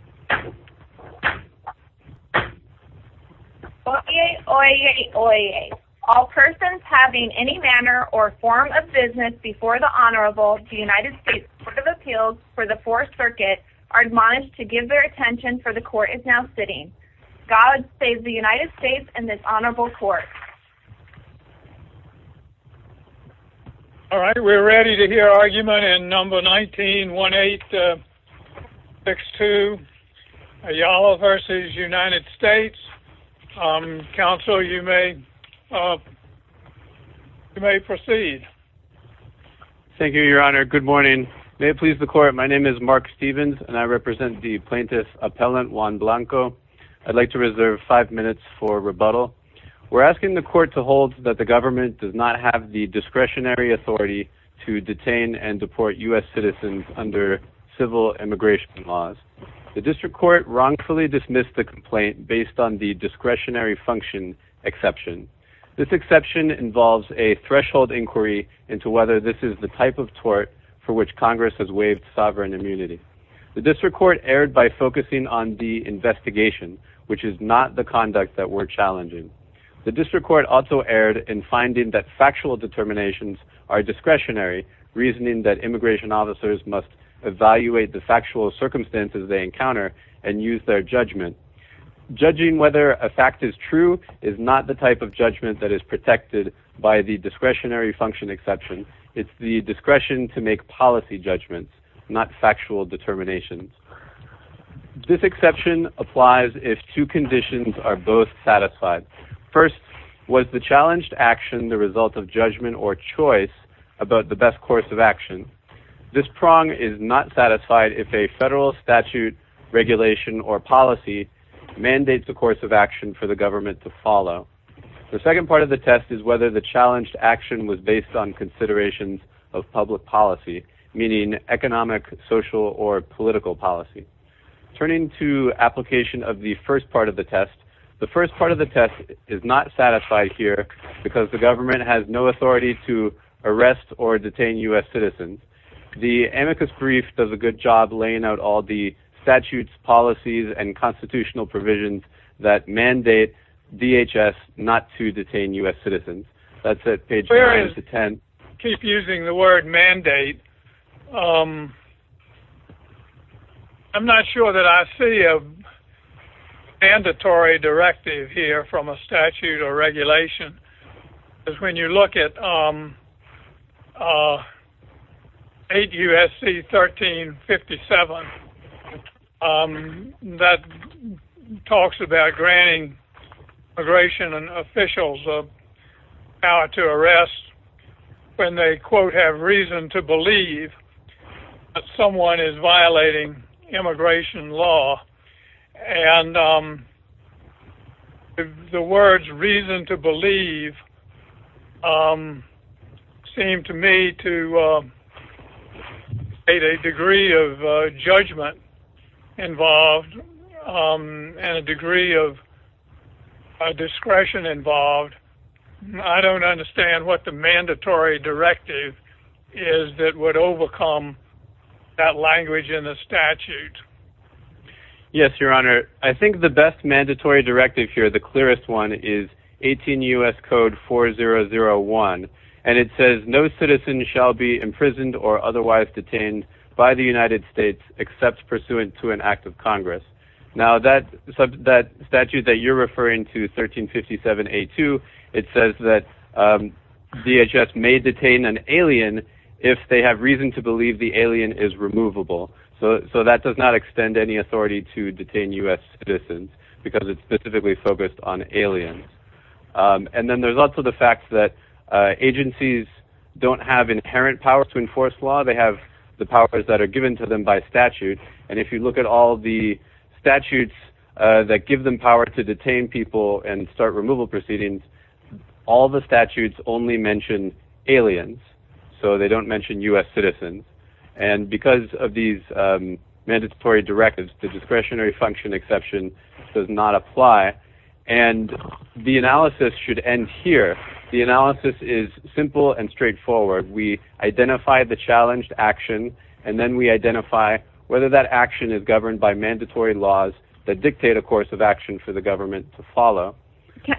Court of Appeals for the 4th Circuit are admonished to give their attention for the court is now sitting. God save the United States and this honorable court. We are ready to hear argument in number 19-1862, Ayala v. United States, counsel you may proceed. Thank you, your honor. Good morning. May it please the court. My name is Mark Stevens and I represent the plaintiff's appellant, Juan Blanco. I'd like to reserve five minutes for rebuttal. We're asking the court to hold that the government does not have the discretionary authority to detain and deport U.S. citizens under civil immigration laws. The district court wrongfully dismissed the complaint based on the discretionary function exception. This exception involves a threshold inquiry into whether this is the type of tort for which Congress has waived sovereign immunity. The district court erred by focusing on the investigation, which is not the conduct that we're challenging. The district court also erred in finding that factual determinations are discretionary, reasoning that immigration officers must evaluate the factual circumstances they encounter and use their judgment. Judging whether a fact is true is not the type of judgment that is protected by the discretionary function exception. It's the discretion to make policy judgments, not factual determinations. This exception applies if two conditions are both satisfied. First, was the challenged action the result of judgment or choice about the best course of action? This prong is not satisfied if a federal statute, regulation, or policy mandates the course of action for the government to follow. The second part of the test is whether the challenged action was based on considerations of public policy, meaning economic, social, or political policy. Turning to application of the first part of the test, the first part of the test is not satisfied here because the government has no authority to arrest or detain U.S. citizens. The amicus brief does a good job laying out all the statutes, policies, and constitutional provisions that mandate DHS not to detain U.S. citizens. That's it, page 9-10. I keep using the word mandate. I'm not sure that I see a mandatory directive here from a statute or regulation. When you look at 8 U.S.C. 1357, that talks about granting immigration officials the power to arrest when they, quote, have reason to believe that someone is violating immigration law, and the words reason to believe seem to me to state a degree of judgment involved and a degree of discretion involved. I don't understand what the mandatory directive is that would overcome that language in the statute. Yes, Your Honor, I think the best mandatory directive here, the clearest one, is 18 U.S. Code 4001, and it says no citizen shall be imprisoned or otherwise detained by the United States except pursuant to an act of Congress. Now, that statute that you're referring to, 1357A2, it says that DHS may detain an alien if they have reason to believe the alien is removable. So that does not extend any authority to detain U.S. citizens because it's specifically focused on aliens. And then there's also the fact that agencies don't have inherent power to enforce law. They have the powers that are given to them by statute, and if you look at all the statutes that give them power to detain people and start removal proceedings, all the statutes only mention aliens, so they don't mention U.S. citizens. And because of these mandatory directives, the discretionary function exception does not apply, and the analysis should end here. The analysis is simple and straightforward. We identify the challenged action, and then we identify whether that action is governed by mandatory laws that dictate a course of action for the government to follow.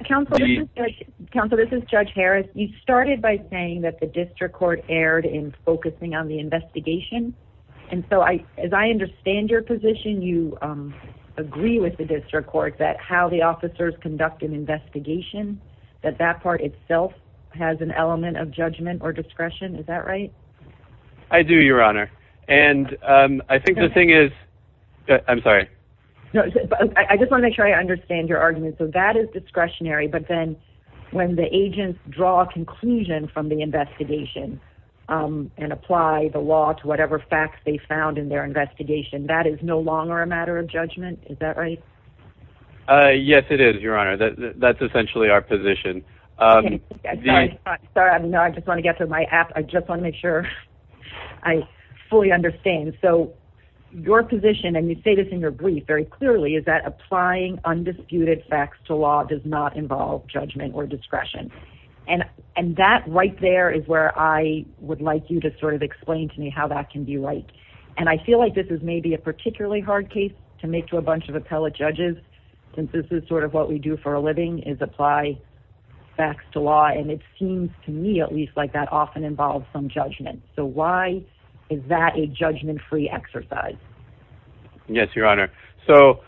Counsel, this is Judge Harris. You started by saying that the district court erred in focusing on the investigation, and so as I understand your position, you agree with the district court that how the officers conduct an investigation, that that part itself has an element of judgment or discretion. Is that right? I do, Your Honor, and I think the thing is... I'm sorry. No, I just want to make sure I understand your argument. So that is discretionary, but then when the agents draw a conclusion from the investigation and apply the law to whatever facts they found in their investigation, that is no longer a matter of judgment. Is that right? Yes, it is, Your Honor. That's essentially our position. Sorry. No, I just want to get to my app. I just want to make sure I fully understand. Your position, and you say this in your brief very clearly, is that applying undisputed facts to law does not involve judgment or discretion, and that right there is where I would like you to sort of explain to me how that can be right, and I feel like this is maybe a particularly hard case to make to a bunch of appellate judges since this is sort of what we do for a living is apply facts to law, and it seems to me at least like that often involves some judgment. So why is that a judgment-free exercise? Yes, Your Honor. So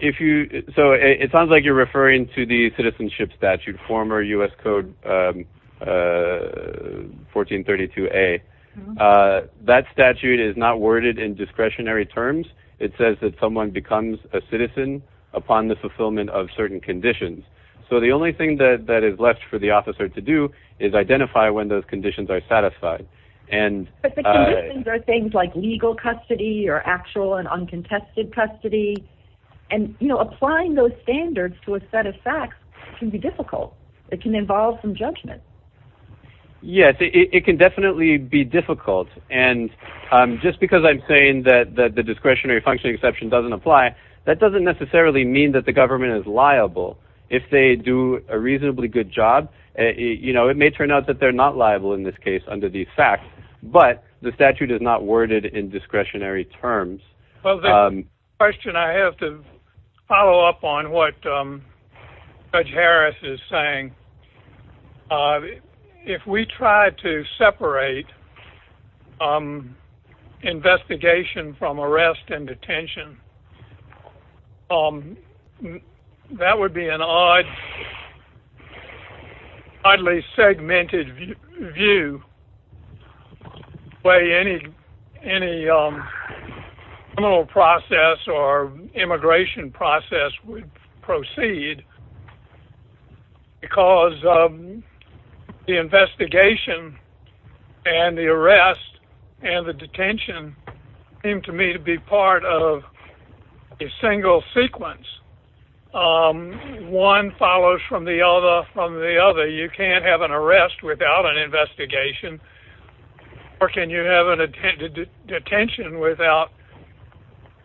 it sounds like you're referring to the citizenship statute, former U.S. Code 1432a. That statute is not worded in discretionary terms. It says that someone becomes a citizen upon the fulfillment of certain conditions. So the only thing that is left for the officer to do is identify when those conditions are satisfied. But the conditions are things like legal custody or actual and uncontested custody, and applying those standards to a set of facts can be difficult. It can involve some judgment. Yes, it can definitely be difficult, and just because I'm saying that the discretionary function exception doesn't apply, that doesn't necessarily mean that the government is liable if they do a reasonably good job. You know, it may turn out that they're not liable in this case under these facts, but the statute is not worded in discretionary terms. Well, that's a question I have to follow up on what Judge Harris is saying. If we try to separate investigation from arrest and detention, that would be an oddly segmented view, the way any criminal process or immigration process would proceed, because the investigation and the arrest and the detention seem to me to be part of a single sequence. One follows from the other from the other. You can't have an arrest without an investigation, or can you have a detention without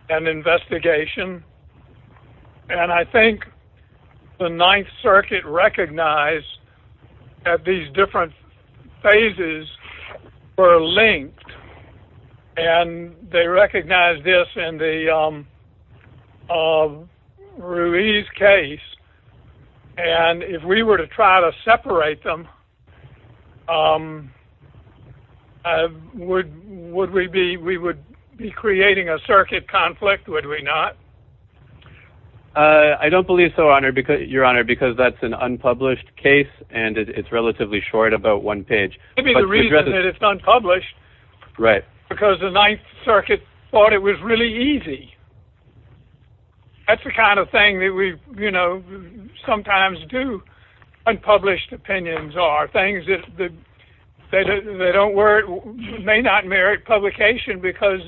an investigation? And I think the Ninth Circuit recognized that these different phases were linked, and they separate them. Would we be creating a circuit conflict? Would we not? I don't believe so, Your Honor, because that's an unpublished case, and it's relatively short, about one page. Maybe the reason that it's unpublished is because the Ninth Circuit thought it was really easy. That's the kind of thing that we sometimes do. Unpublished opinions are things that may not merit publication because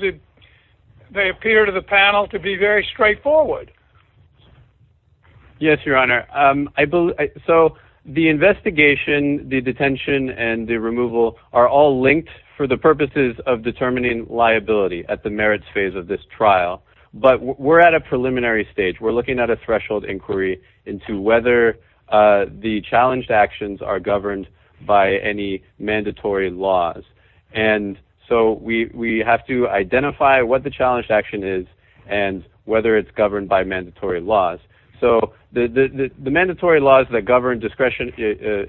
they appear to the panel to be very straightforward. Yes, Your Honor. So the investigation, the detention, and the removal are all linked for the purposes of But we're at a preliminary stage. We're looking at a threshold inquiry into whether the challenged actions are governed by any mandatory laws. And so we have to identify what the challenged action is and whether it's governed by mandatory laws. So the mandatory laws that govern discretion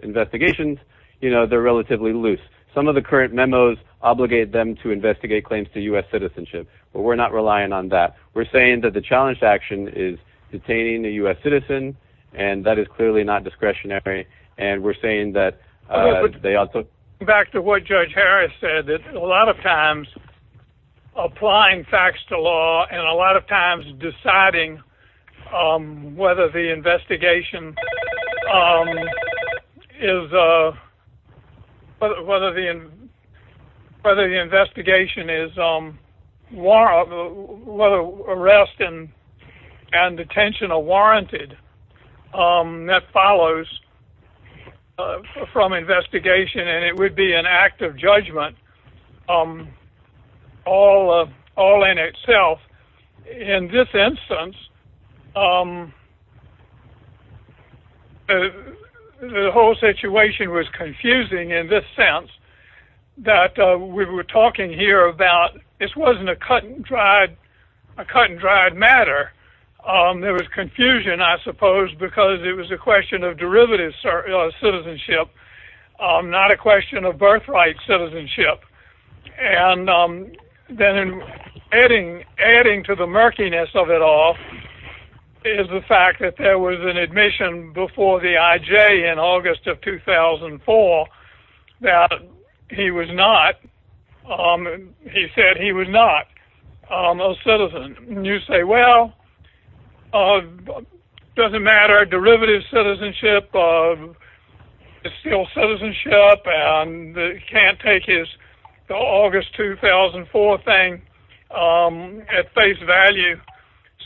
investigations, they're relatively loose. Some of the current memos obligate them to investigate claims to U.S. citizenship, but we're not relying on that. We're saying that the challenged action is detaining a U.S. citizen, and that is clearly not discretionary. And we're saying that they also Back to what Judge Harris said, that a lot of times applying facts to law and a lot of times deciding whether the investigation is whether arrest and detention are warranted, that follows from investigation, and it would be an act of judgment all in itself. In this instance, the whole situation was confusing in this sense that we were talking here about this wasn't a cut and dried matter. There was confusion, I suppose, because it was a question of derivative citizenship, not a question of birthright citizenship. And then adding to the murkiness of it all is the fact that there was an admission before the IJ in August of 2004 that he was not, he said he was not, a citizen. And you say, well, it doesn't matter. Derivative citizenship is still citizenship, and you can't take his August 2004 thing at face value.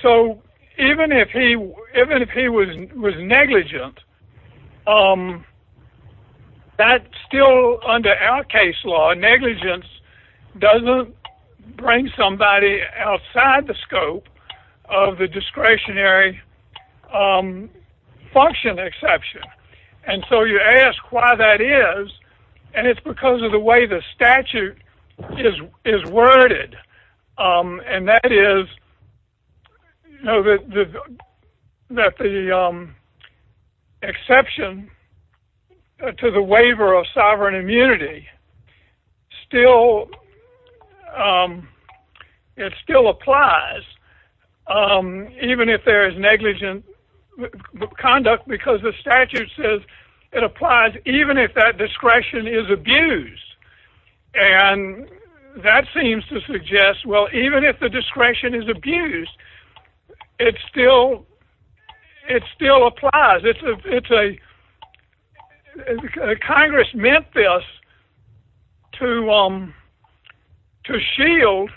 So even if he was negligent, that still under our case law, negligence doesn't bring somebody outside the scope of the discretionary function exception. And so you ask why that is, and it's because of the way the statute is worded, and that the exception to the waiver of sovereign immunity still applies, even if there is negligent conduct, because the statute says it applies even if that discretion is abused. And that seems to suggest, well, even if the discretion is abused, it still applies. Congress meant this to shield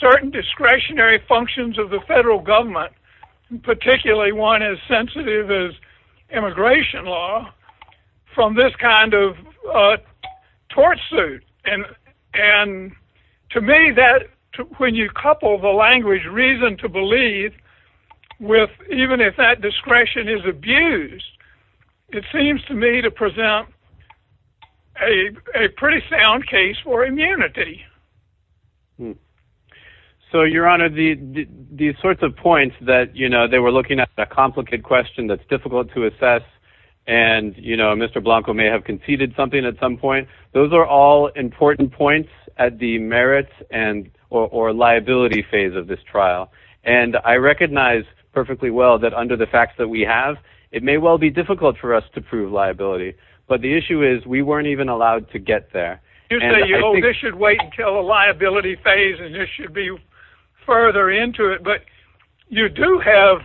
certain discretionary functions of the federal government, particularly one as sensitive as immigration law, from this kind of tort suit. And to me, when you couple the language reason to believe with even if that discretion is abused, it seems to me to present a pretty sound case for immunity. So, Your Honor, the sorts of points that they were looking at, that complicated question that's difficult to assess, and Mr. Blanco may have conceded something at some point, those are all important points at the merits or liability phase of this trial. And I recognize perfectly well that under the facts that we have, it may well be difficult for us to prove liability. But the issue is we weren't even allowed to get there. You say, oh, this should wait until the liability phase, and this should be further into it. But you do have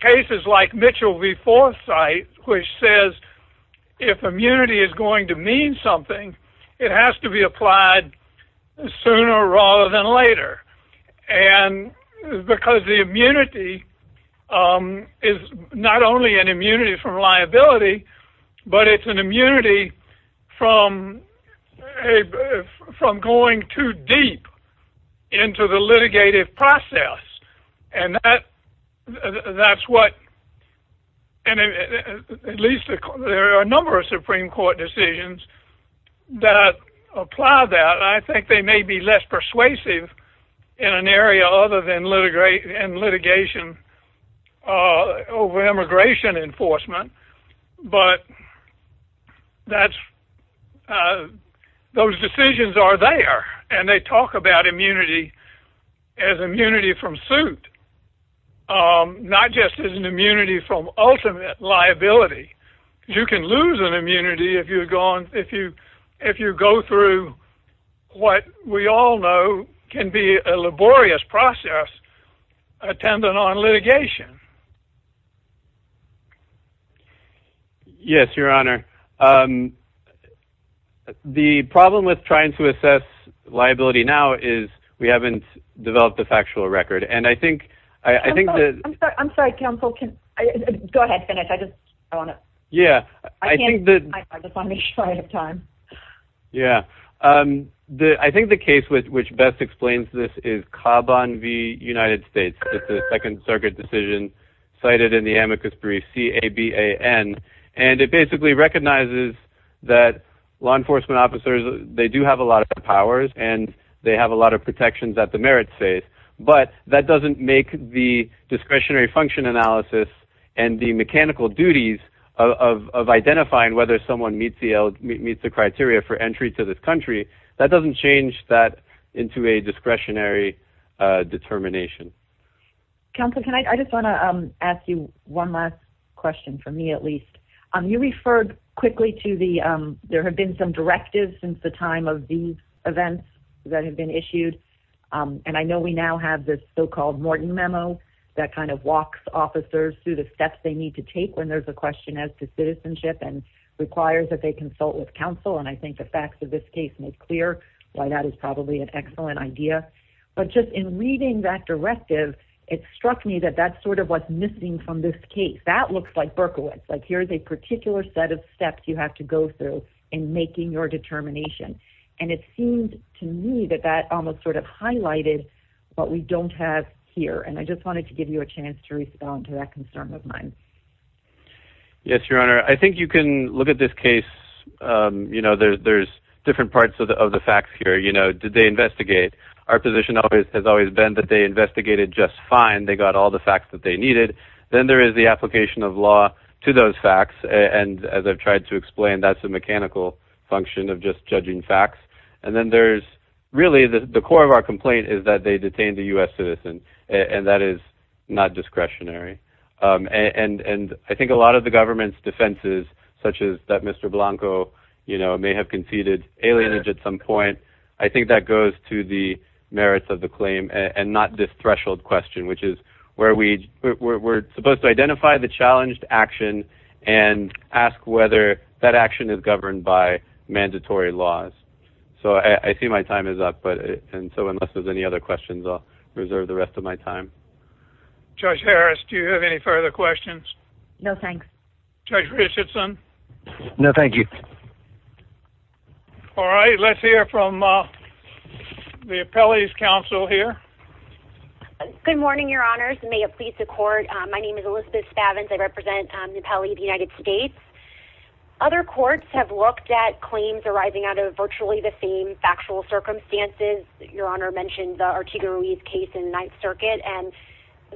cases like Mitchell v. Forsythe, which says if immunity is going to mean something, it has to be applied sooner rather than later. And because the immunity is not only an immunity from liability, but it's an immunity from going too deep into the litigative process. And that's what, at least there are a number of Supreme Court decisions that apply that. I think they may be less persuasive in an area other than litigation over immigration enforcement. But those decisions are there, and they talk about immunity as immunity from suit, not just as an immunity from ultimate liability. You can lose an immunity if you go through what we all know can be a laborious process attendant on litigation. Yes, Your Honor. The problem with trying to assess liability now is we haven't developed a factual record. And I think that... Go ahead, Finnish. I just want to make sure I have time. Yeah. I think the case which best explains this is Cobb v. United States. It's a Second Circuit decision cited in the amicus brief, C-A-B-A-N. And it basically recognizes that law enforcement officers, they do have a lot of powers, and they have a lot of protections that the merits face. But that doesn't make the discretionary function analysis and the mechanical duties of identifying whether someone meets the criteria for entry to this country, that doesn't change that into a discretionary determination. Counselor, I just want to ask you one last question, for me at least. You referred quickly to the... There have been some directives since the time of these events that have been issued. And I know we now have this so-called Morton Memo that kind of walks officers through the steps they need to take when there's a question as to citizenship and requires that they consult with counsel. And I think the facts of this case make clear why that is probably an excellent idea. But just in reading that directive, it struck me that that's sort of what's missing from this case. That looks like Berkowitz, like here's a particular set of steps you have to go through in making your determination. And it seems to me that that almost sort of highlighted what we don't have here. And I just wanted to give you a chance to respond to that concern of mine. Yes, Your Honor. I think you can look at this case. You know, there's different parts of the facts here. You know, did they investigate? Our position has always been that they investigated just fine. They got all the facts that they needed. Then there is the application of law to those facts. And as I've tried to explain, that's a mechanical function of just judging facts. And then there's really the core of our complaint is that they detained a U.S. citizen. And that is not discretionary. And I think a lot of the government's defenses, such as that Mr. Blanco may have conceded alienage at some point, I think that goes to the merits of the claim and not this threshold question, which is where we're supposed to identify the challenged action and ask whether that action is governed by mandatory laws. So I see my time is up. And so unless there's any other questions, I'll reserve the rest of my time. Judge Harris, do you have any further questions? No, thanks. Judge Richardson? No, thank you. All right. Let's hear from the Appellees Council here. Good morning, Your Honors. May it please the Court. My name is Elizabeth Spavins. I represent the Appellee of the United States. Other courts have looked at claims arising out of virtually the same factual circumstances. Your Honor mentioned the Artigo Ruiz case in the Ninth Circuit. And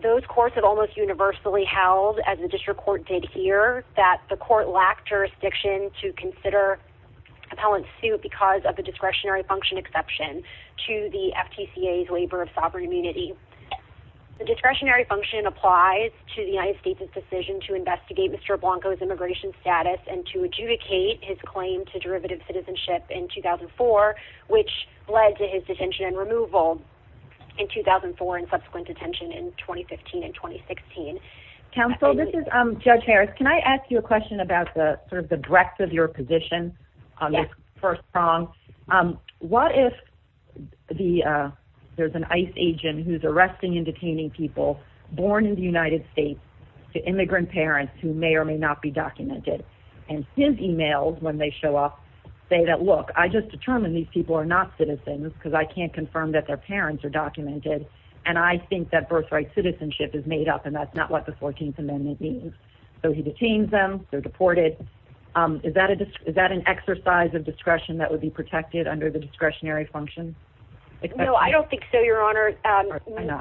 those courts have almost universally held, as the district court did here, that the court lacked jurisdiction to consider appellant's suit because of the discretionary function exception to the FTCA's labor of sovereign immunity. The discretionary function applies to the United States' decision to investigate Mr. Blanco's immigration status and to adjudicate his claim to derivative citizenship in 2004, which led to his detention and removal in 2004 and subsequent detention in 2015 and 2016. Counsel, this is Judge Harris. Can I ask you a question about sort of the breadth of your position on this first prong? What if there's an ICE agent who's arresting and detaining people born in the United States to immigrant parents who may or may not be documented? And his emails, when they show up, say that, look, I just determined these people are not citizens because I can't confirm that their parents are documented. And I think that birthright citizenship is made up, and that's not what the 14th Amendment means. So he detains them. They're deported. Is that an exercise of discretion that would be protected under the discretionary function? No, I don't think so, Your Honor.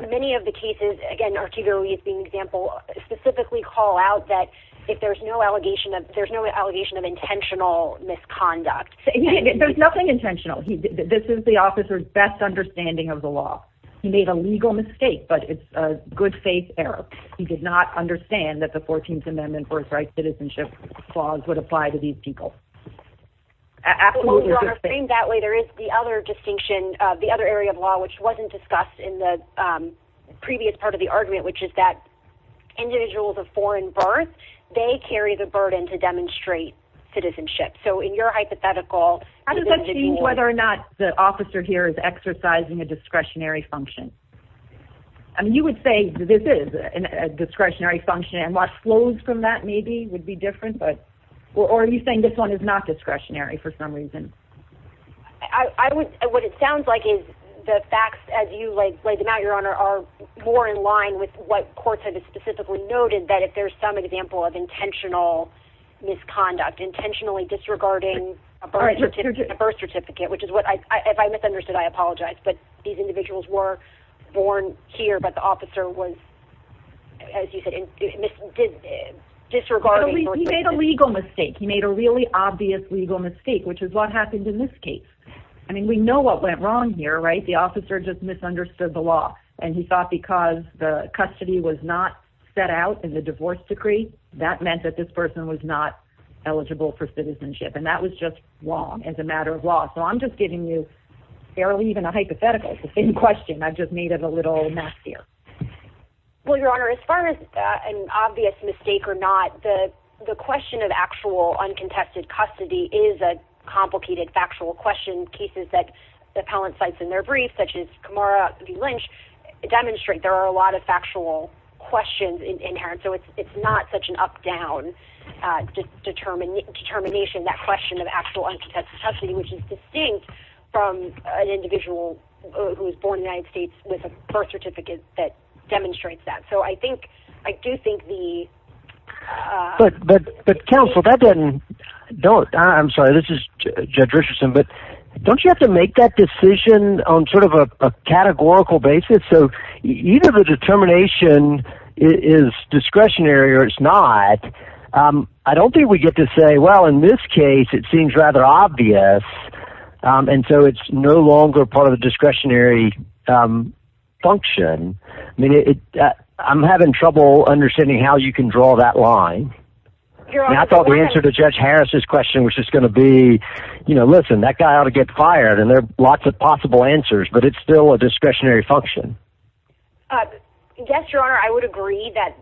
Many of the cases, again, Artigo is an example, specifically call out that if there's no allegation of intentional misconduct. There's nothing intentional. This is the officer's best understanding of the law. He made a legal mistake, but it's a good faith error. He did not understand that the 14th Amendment birthright citizenship clause would apply to these people. Absolutely. Your Honor, framed that way, there is the other distinction, the other area of law, which wasn't discussed in the previous part of the argument, which is that individuals of foreign birth, they carry the burden to demonstrate citizenship. So in your hypothetical, How does that change whether or not the officer here is exercising a discretionary function? You would say this is a discretionary function, and what flows from that maybe would be different. Or are you saying this one is not discretionary for some reason? What it sounds like is the facts, as you laid them out, Your Honor, are more in line with what courts have specifically noted, that if there's some example of intentional misconduct, intentionally disregarding a birth certificate, which is what I, if I misunderstood, I apologize. But these individuals were born here, but the officer was, as you said, disregarding birth certificates. He made a legal mistake. He made a really obvious legal mistake, which is what happened in this case. I mean, we know what went wrong here, right? The officer just misunderstood the law. And he thought because the custody was not set out in the divorce decree, that meant that this person was not eligible for citizenship. And that was just wrong as a matter of law. So I'm just giving you barely even a hypothetical in question. I've just made it a little nastier. Well, Your Honor, as far as an obvious mistake or not, the question of actual uncontested custody is a complicated factual question. Cases that the appellant cites in their brief, such as Kamara v. Lynch, demonstrate there are a lot of factual questions inherent. So it's not such an up-down determination, that question of actual uncontested custody, which is distinct from an individual who was born in the United States with a birth certificate that demonstrates that. So I think, I do think the- But counsel, that doesn't, I'm sorry, this is Judge Richardson, but don't you have to make that decision on sort of a categorical basis? So either the determination is discretionary or it's not. I don't think we get to say, well, in this case, it seems rather obvious, and so it's no longer part of the discretionary function. I mean, I'm having trouble understanding how you can draw that line. And I thought the answer to Judge Harris' question was just going to be, you know, listen, that guy ought to get fired. And there are lots of possible answers, but it's still a discretionary function. Yes, Your Honor, I would agree that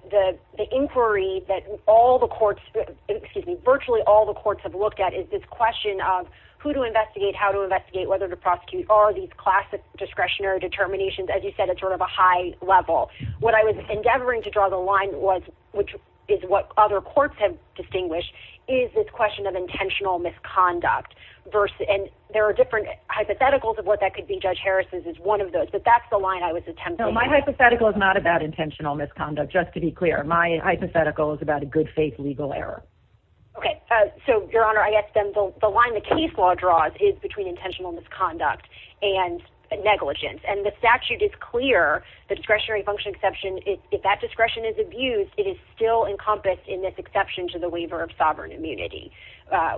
the inquiry that all the courts, excuse me, virtually all the courts have looked at is this question of who to investigate, how to investigate, whether to prosecute, are these classic discretionary determinations, as you said, at sort of a high level. What I was endeavoring to draw the line was, which is what other courts have distinguished, is this question of intentional misconduct. And there are different hypotheticals of what that could be. But that's the line I was attempting. No, my hypothetical is not about intentional misconduct, just to be clear. My hypothetical is about a good-faith legal error. Okay. So, Your Honor, I guess then the line the case law draws is between intentional misconduct and negligence. And the statute is clear. The discretionary function exception, if that discretion is abused, it is still encompassed in this exception to the waiver of sovereign immunity,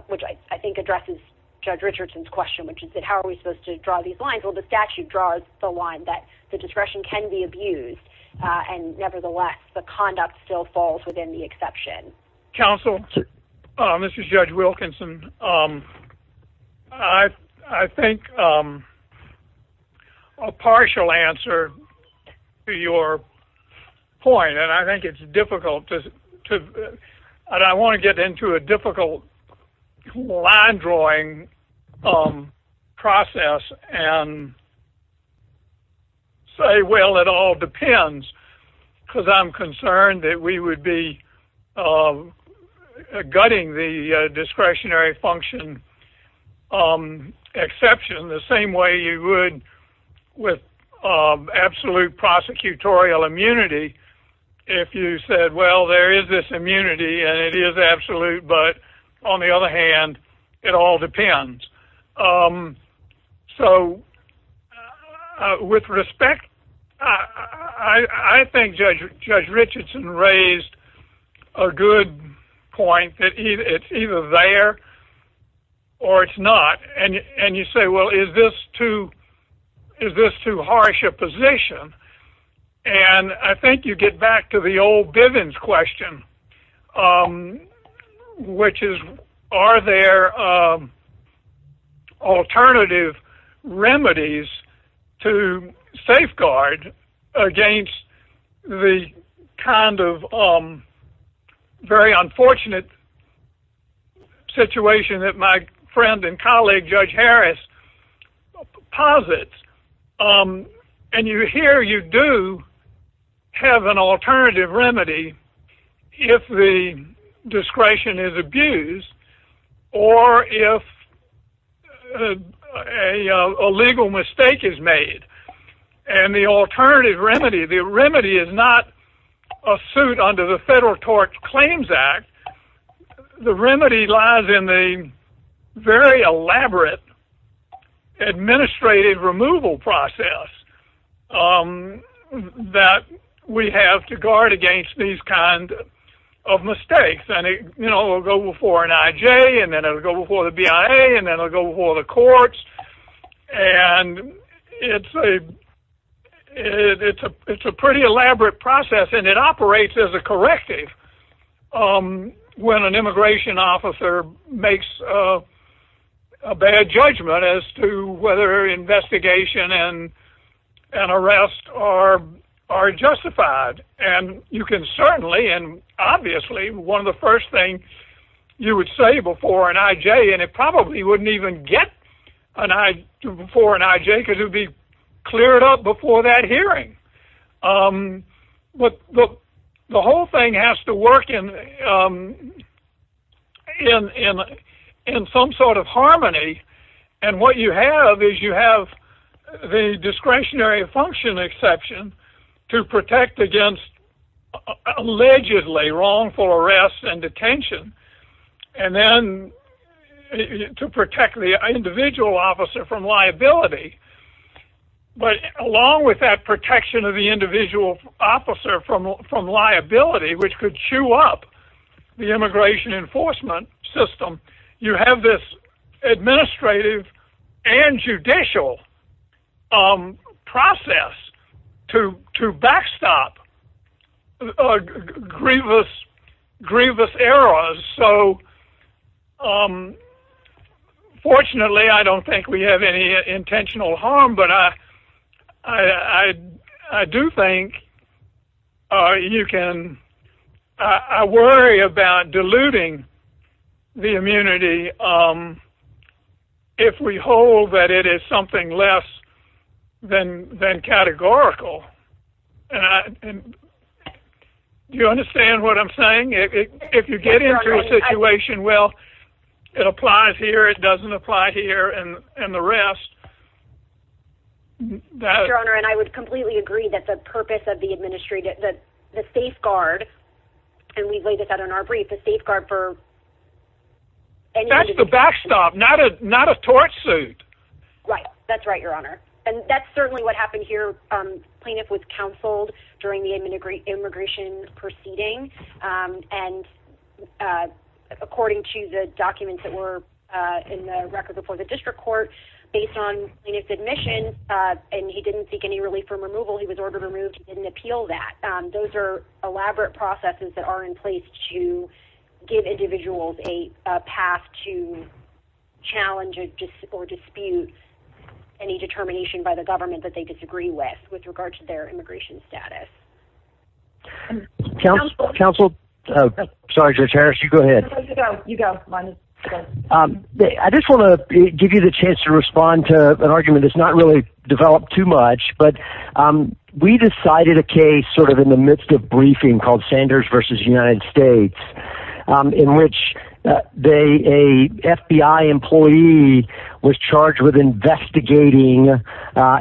which I think addresses Judge Richardson's question, which is that how are we supposed to draw these lines? Well, the statute draws the line that the discretion can be abused, and nevertheless the conduct still falls within the exception. Counsel, this is Judge Wilkinson. I think a partial answer to your point, and I think it's difficult to – I don't want to get into a difficult line-drawing process and say, well, it all depends, because I'm concerned that we would be gutting the discretionary function exception the same way you would with absolute prosecutorial immunity if you said, well, there is this immunity and it is absolute, but on the other hand, it all depends. So with respect, I think Judge Richardson raised a good point that it's either there or it's not. And you say, well, is this too harsh a position? And I think you get back to the old Bivens question, which is, are there alternative remedies to safeguard against the kind of very unfortunate situation that my friend and colleague Judge Harris posits? And here you do have an alternative remedy if the discretion is abused or if a legal mistake is made. And the alternative remedy, the remedy is not a suit under the Federal Tort Claims Act. The remedy lies in the very elaborate administrative removal process that we have to guard against these kinds of mistakes. And it will go before an IJ, and then it will go before the BIA, and then it will go before the courts. And it's a pretty elaborate process, and it operates as a corrective when an immigration officer makes a bad judgment as to whether investigation and arrest are justified. And you can certainly, and obviously, one of the first things you would say before an IJ, and it probably wouldn't even get before an IJ because it would be cleared up before that hearing. But the whole thing has to work in some sort of harmony, and what you have is you have the discretionary function exception to protect against allegedly wrongful arrests and detention. And then to protect the individual officer from liability. But along with that protection of the individual officer from liability, which could chew up the immigration enforcement system, you have this administrative and judicial process to backstop grievous errors. So fortunately, I don't think we have any intentional harm, but I do think you can worry about diluting the immunity if we hold that it is something less than categorical. And do you understand what I'm saying? If you get into a situation, well, it applies here, it doesn't apply here, and the rest. Your Honor, and I would completely agree that the purpose of the administrative, the safeguard, and we've laid this out in our brief, the safeguard for... That's the backstop, not a torch suit. Right, that's right, Your Honor. And that's certainly what happened here. Plaintiff was counseled during the immigration proceeding, and according to the documents that were in the record before the district court, based on plaintiff's admission, and he didn't seek any relief from removal, he was ordered removed, he didn't appeal that. Those are elaborate processes that are in place to give individuals a path to challenge or dispute any determination by the government that they disagree with, with regard to their immigration status. Counsel, counsel. Sorry, Judge Harris, you go ahead. I just want to give you the chance to respond to an argument that's not really developed too much, but we decided a case sort of in the midst of briefing called Sanders v. United States, in which a FBI employee was charged with investigating,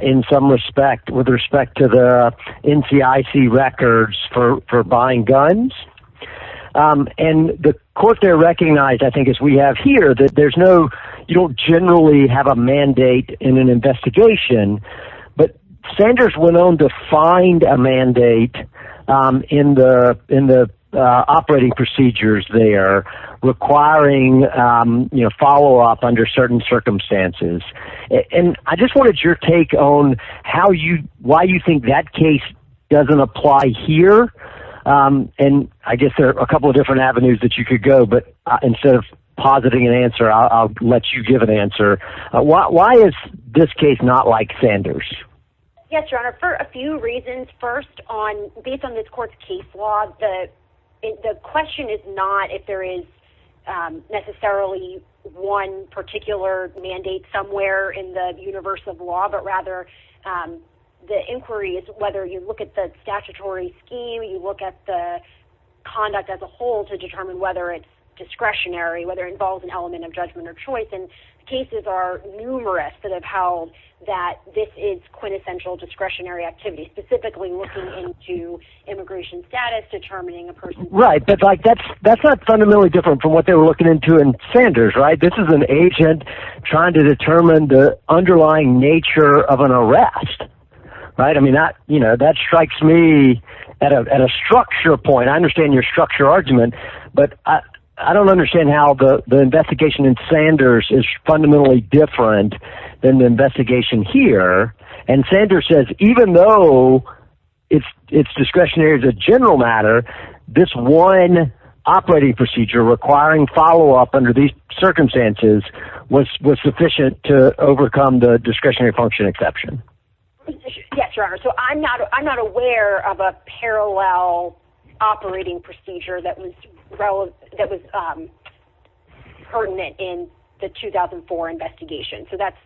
in some respect, with respect to the NCIC records for buying guns. And the court there recognized, I think as we have here, that there's no, you don't generally have a mandate in an investigation, but Sanders went on to find a mandate in the operating procedures there requiring follow-up under certain circumstances. And I just wanted your take on how you, why you think that case doesn't apply here, and I guess there are a couple of different avenues that you could go, but instead of positing an answer, I'll let you give an answer. Why is this case not like Sanders? Yes, Your Honor, for a few reasons. First, based on this court's case law, the question is not if there is necessarily one particular mandate somewhere in the universe of law, but rather the inquiry is whether you look at the statutory scheme, you look at the conduct as a whole to determine whether it's discretionary, whether it involves an element of judgment or choice. And cases are numerous that have held that this is quintessential discretionary activity, specifically looking into immigration status, determining a person's... Right, but that's not fundamentally different from what they were looking into in Sanders, right? This is an agent trying to determine the underlying nature of an arrest, right? I mean, that strikes me at a structure point. I understand your structure argument, but I don't understand how the investigation in Sanders is fundamentally different than the investigation here. And Sanders says even though it's discretionary as a general matter, this one operating procedure requiring follow-up under these circumstances was sufficient to overcome the discretionary function exception. Yes, Your Honor. So I'm not aware of a parallel operating procedure that was pertinent in the 2004 investigation. So that's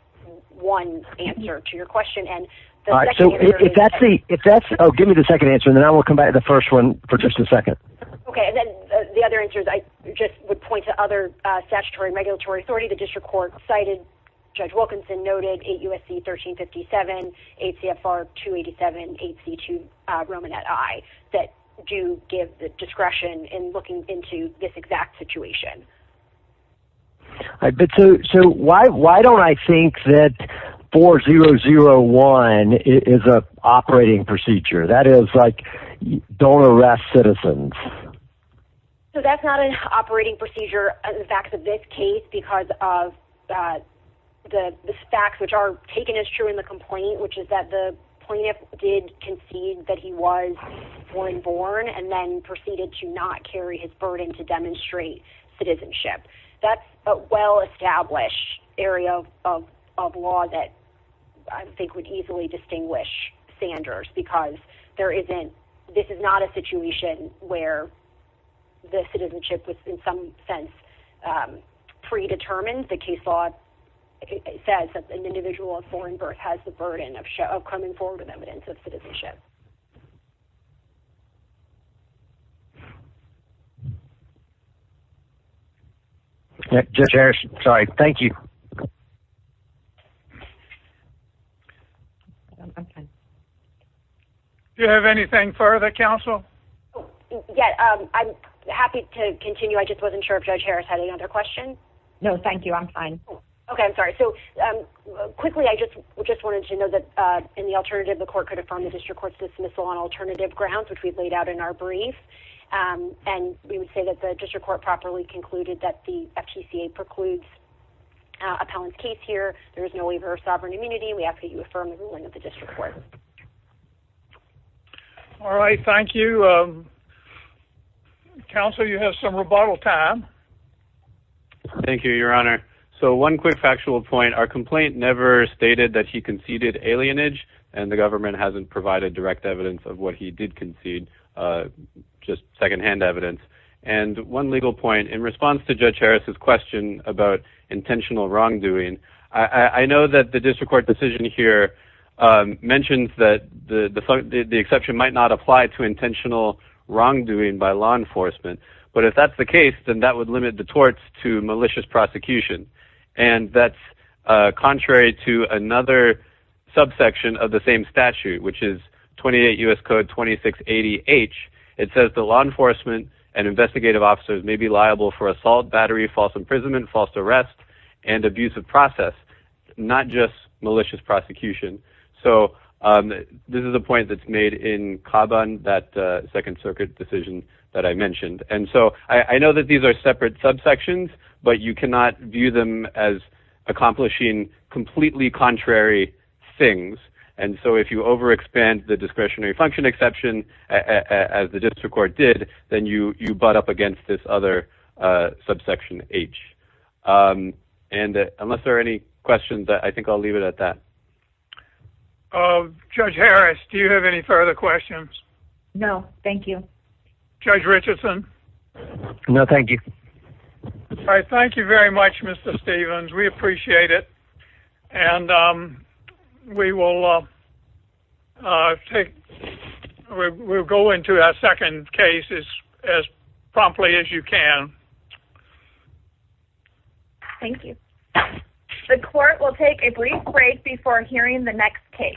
one answer to your question. All right, so if that's the... Oh, give me the second answer, and then I will come back to the first one for just a second. Okay, and then the other answer is I just would point to other statutory and regulatory authority. Judge Wilkinson noted 8 U.S.C. 1357, 8 CFR 287, 8 C2 Romanet I that do give the discretion in looking into this exact situation. All right, but so why don't I think that 4001 is an operating procedure? That is, like, don't arrest citizens. So that's not an operating procedure. In fact, in this case, because of the facts which are taken as true in the complaint, which is that the plaintiff did concede that he was foreign-born and then proceeded to not carry his burden to demonstrate citizenship. That's a well-established area of law that I think would easily distinguish Sanders because this is not a situation where the citizenship was, in some sense, predetermined. The case law says that an individual of foreign birth has the burden of coming forward with evidence of citizenship. Judge Harris, sorry. Thank you. Do you have anything further, counsel? Yeah, I'm happy to continue. I just wasn't sure if Judge Harris had any other questions. No, thank you. I'm fine. Okay, I'm sorry. So quickly, I just wanted you to know that in the alternative, the court could affirm the district court's dismissal on alternative grounds, which we've laid out in our brief, and we would say that the district court properly concluded that the FTCA precludes appellant's case here. There is no waiver of sovereign immunity. We ask that you affirm the ruling of the district court. All right. Thank you. Counsel, you have some rebuttal time. Thank you, Your Honor. So one quick factual point. Our complaint never stated that he conceded alienage, and the government hasn't provided direct evidence of what he did concede, just secondhand evidence. And one legal point. In response to Judge Harris's question about intentional wrongdoing, I know that the district court decision here mentions that the exception might not apply to intentional wrongdoing by law enforcement. But if that's the case, then that would limit the torts to malicious prosecution. And that's contrary to another subsection of the same statute, which is 28 U.S. Code 2680H. It says the law enforcement and investigative officers may be liable for assault, battery, false imprisonment, false arrest, and abuse of process, not just malicious prosecution. So this is a point that's made in Caban, that Second Circuit decision that I mentioned. And so I know that these are separate subsections, but you cannot view them as accomplishing completely contrary things. And so if you overexpand the discretionary function exception, as the district court did, then you butt up against this other subsection, H. And unless there are any questions, I think I'll leave it at that. Judge Harris, do you have any further questions? No, thank you. Judge Richardson? No, thank you. All right, thank you very much, Mr. Stevens. We appreciate it. And we will go into that second case as promptly as you can. Thank you. The court will take a brief break before hearing the next case.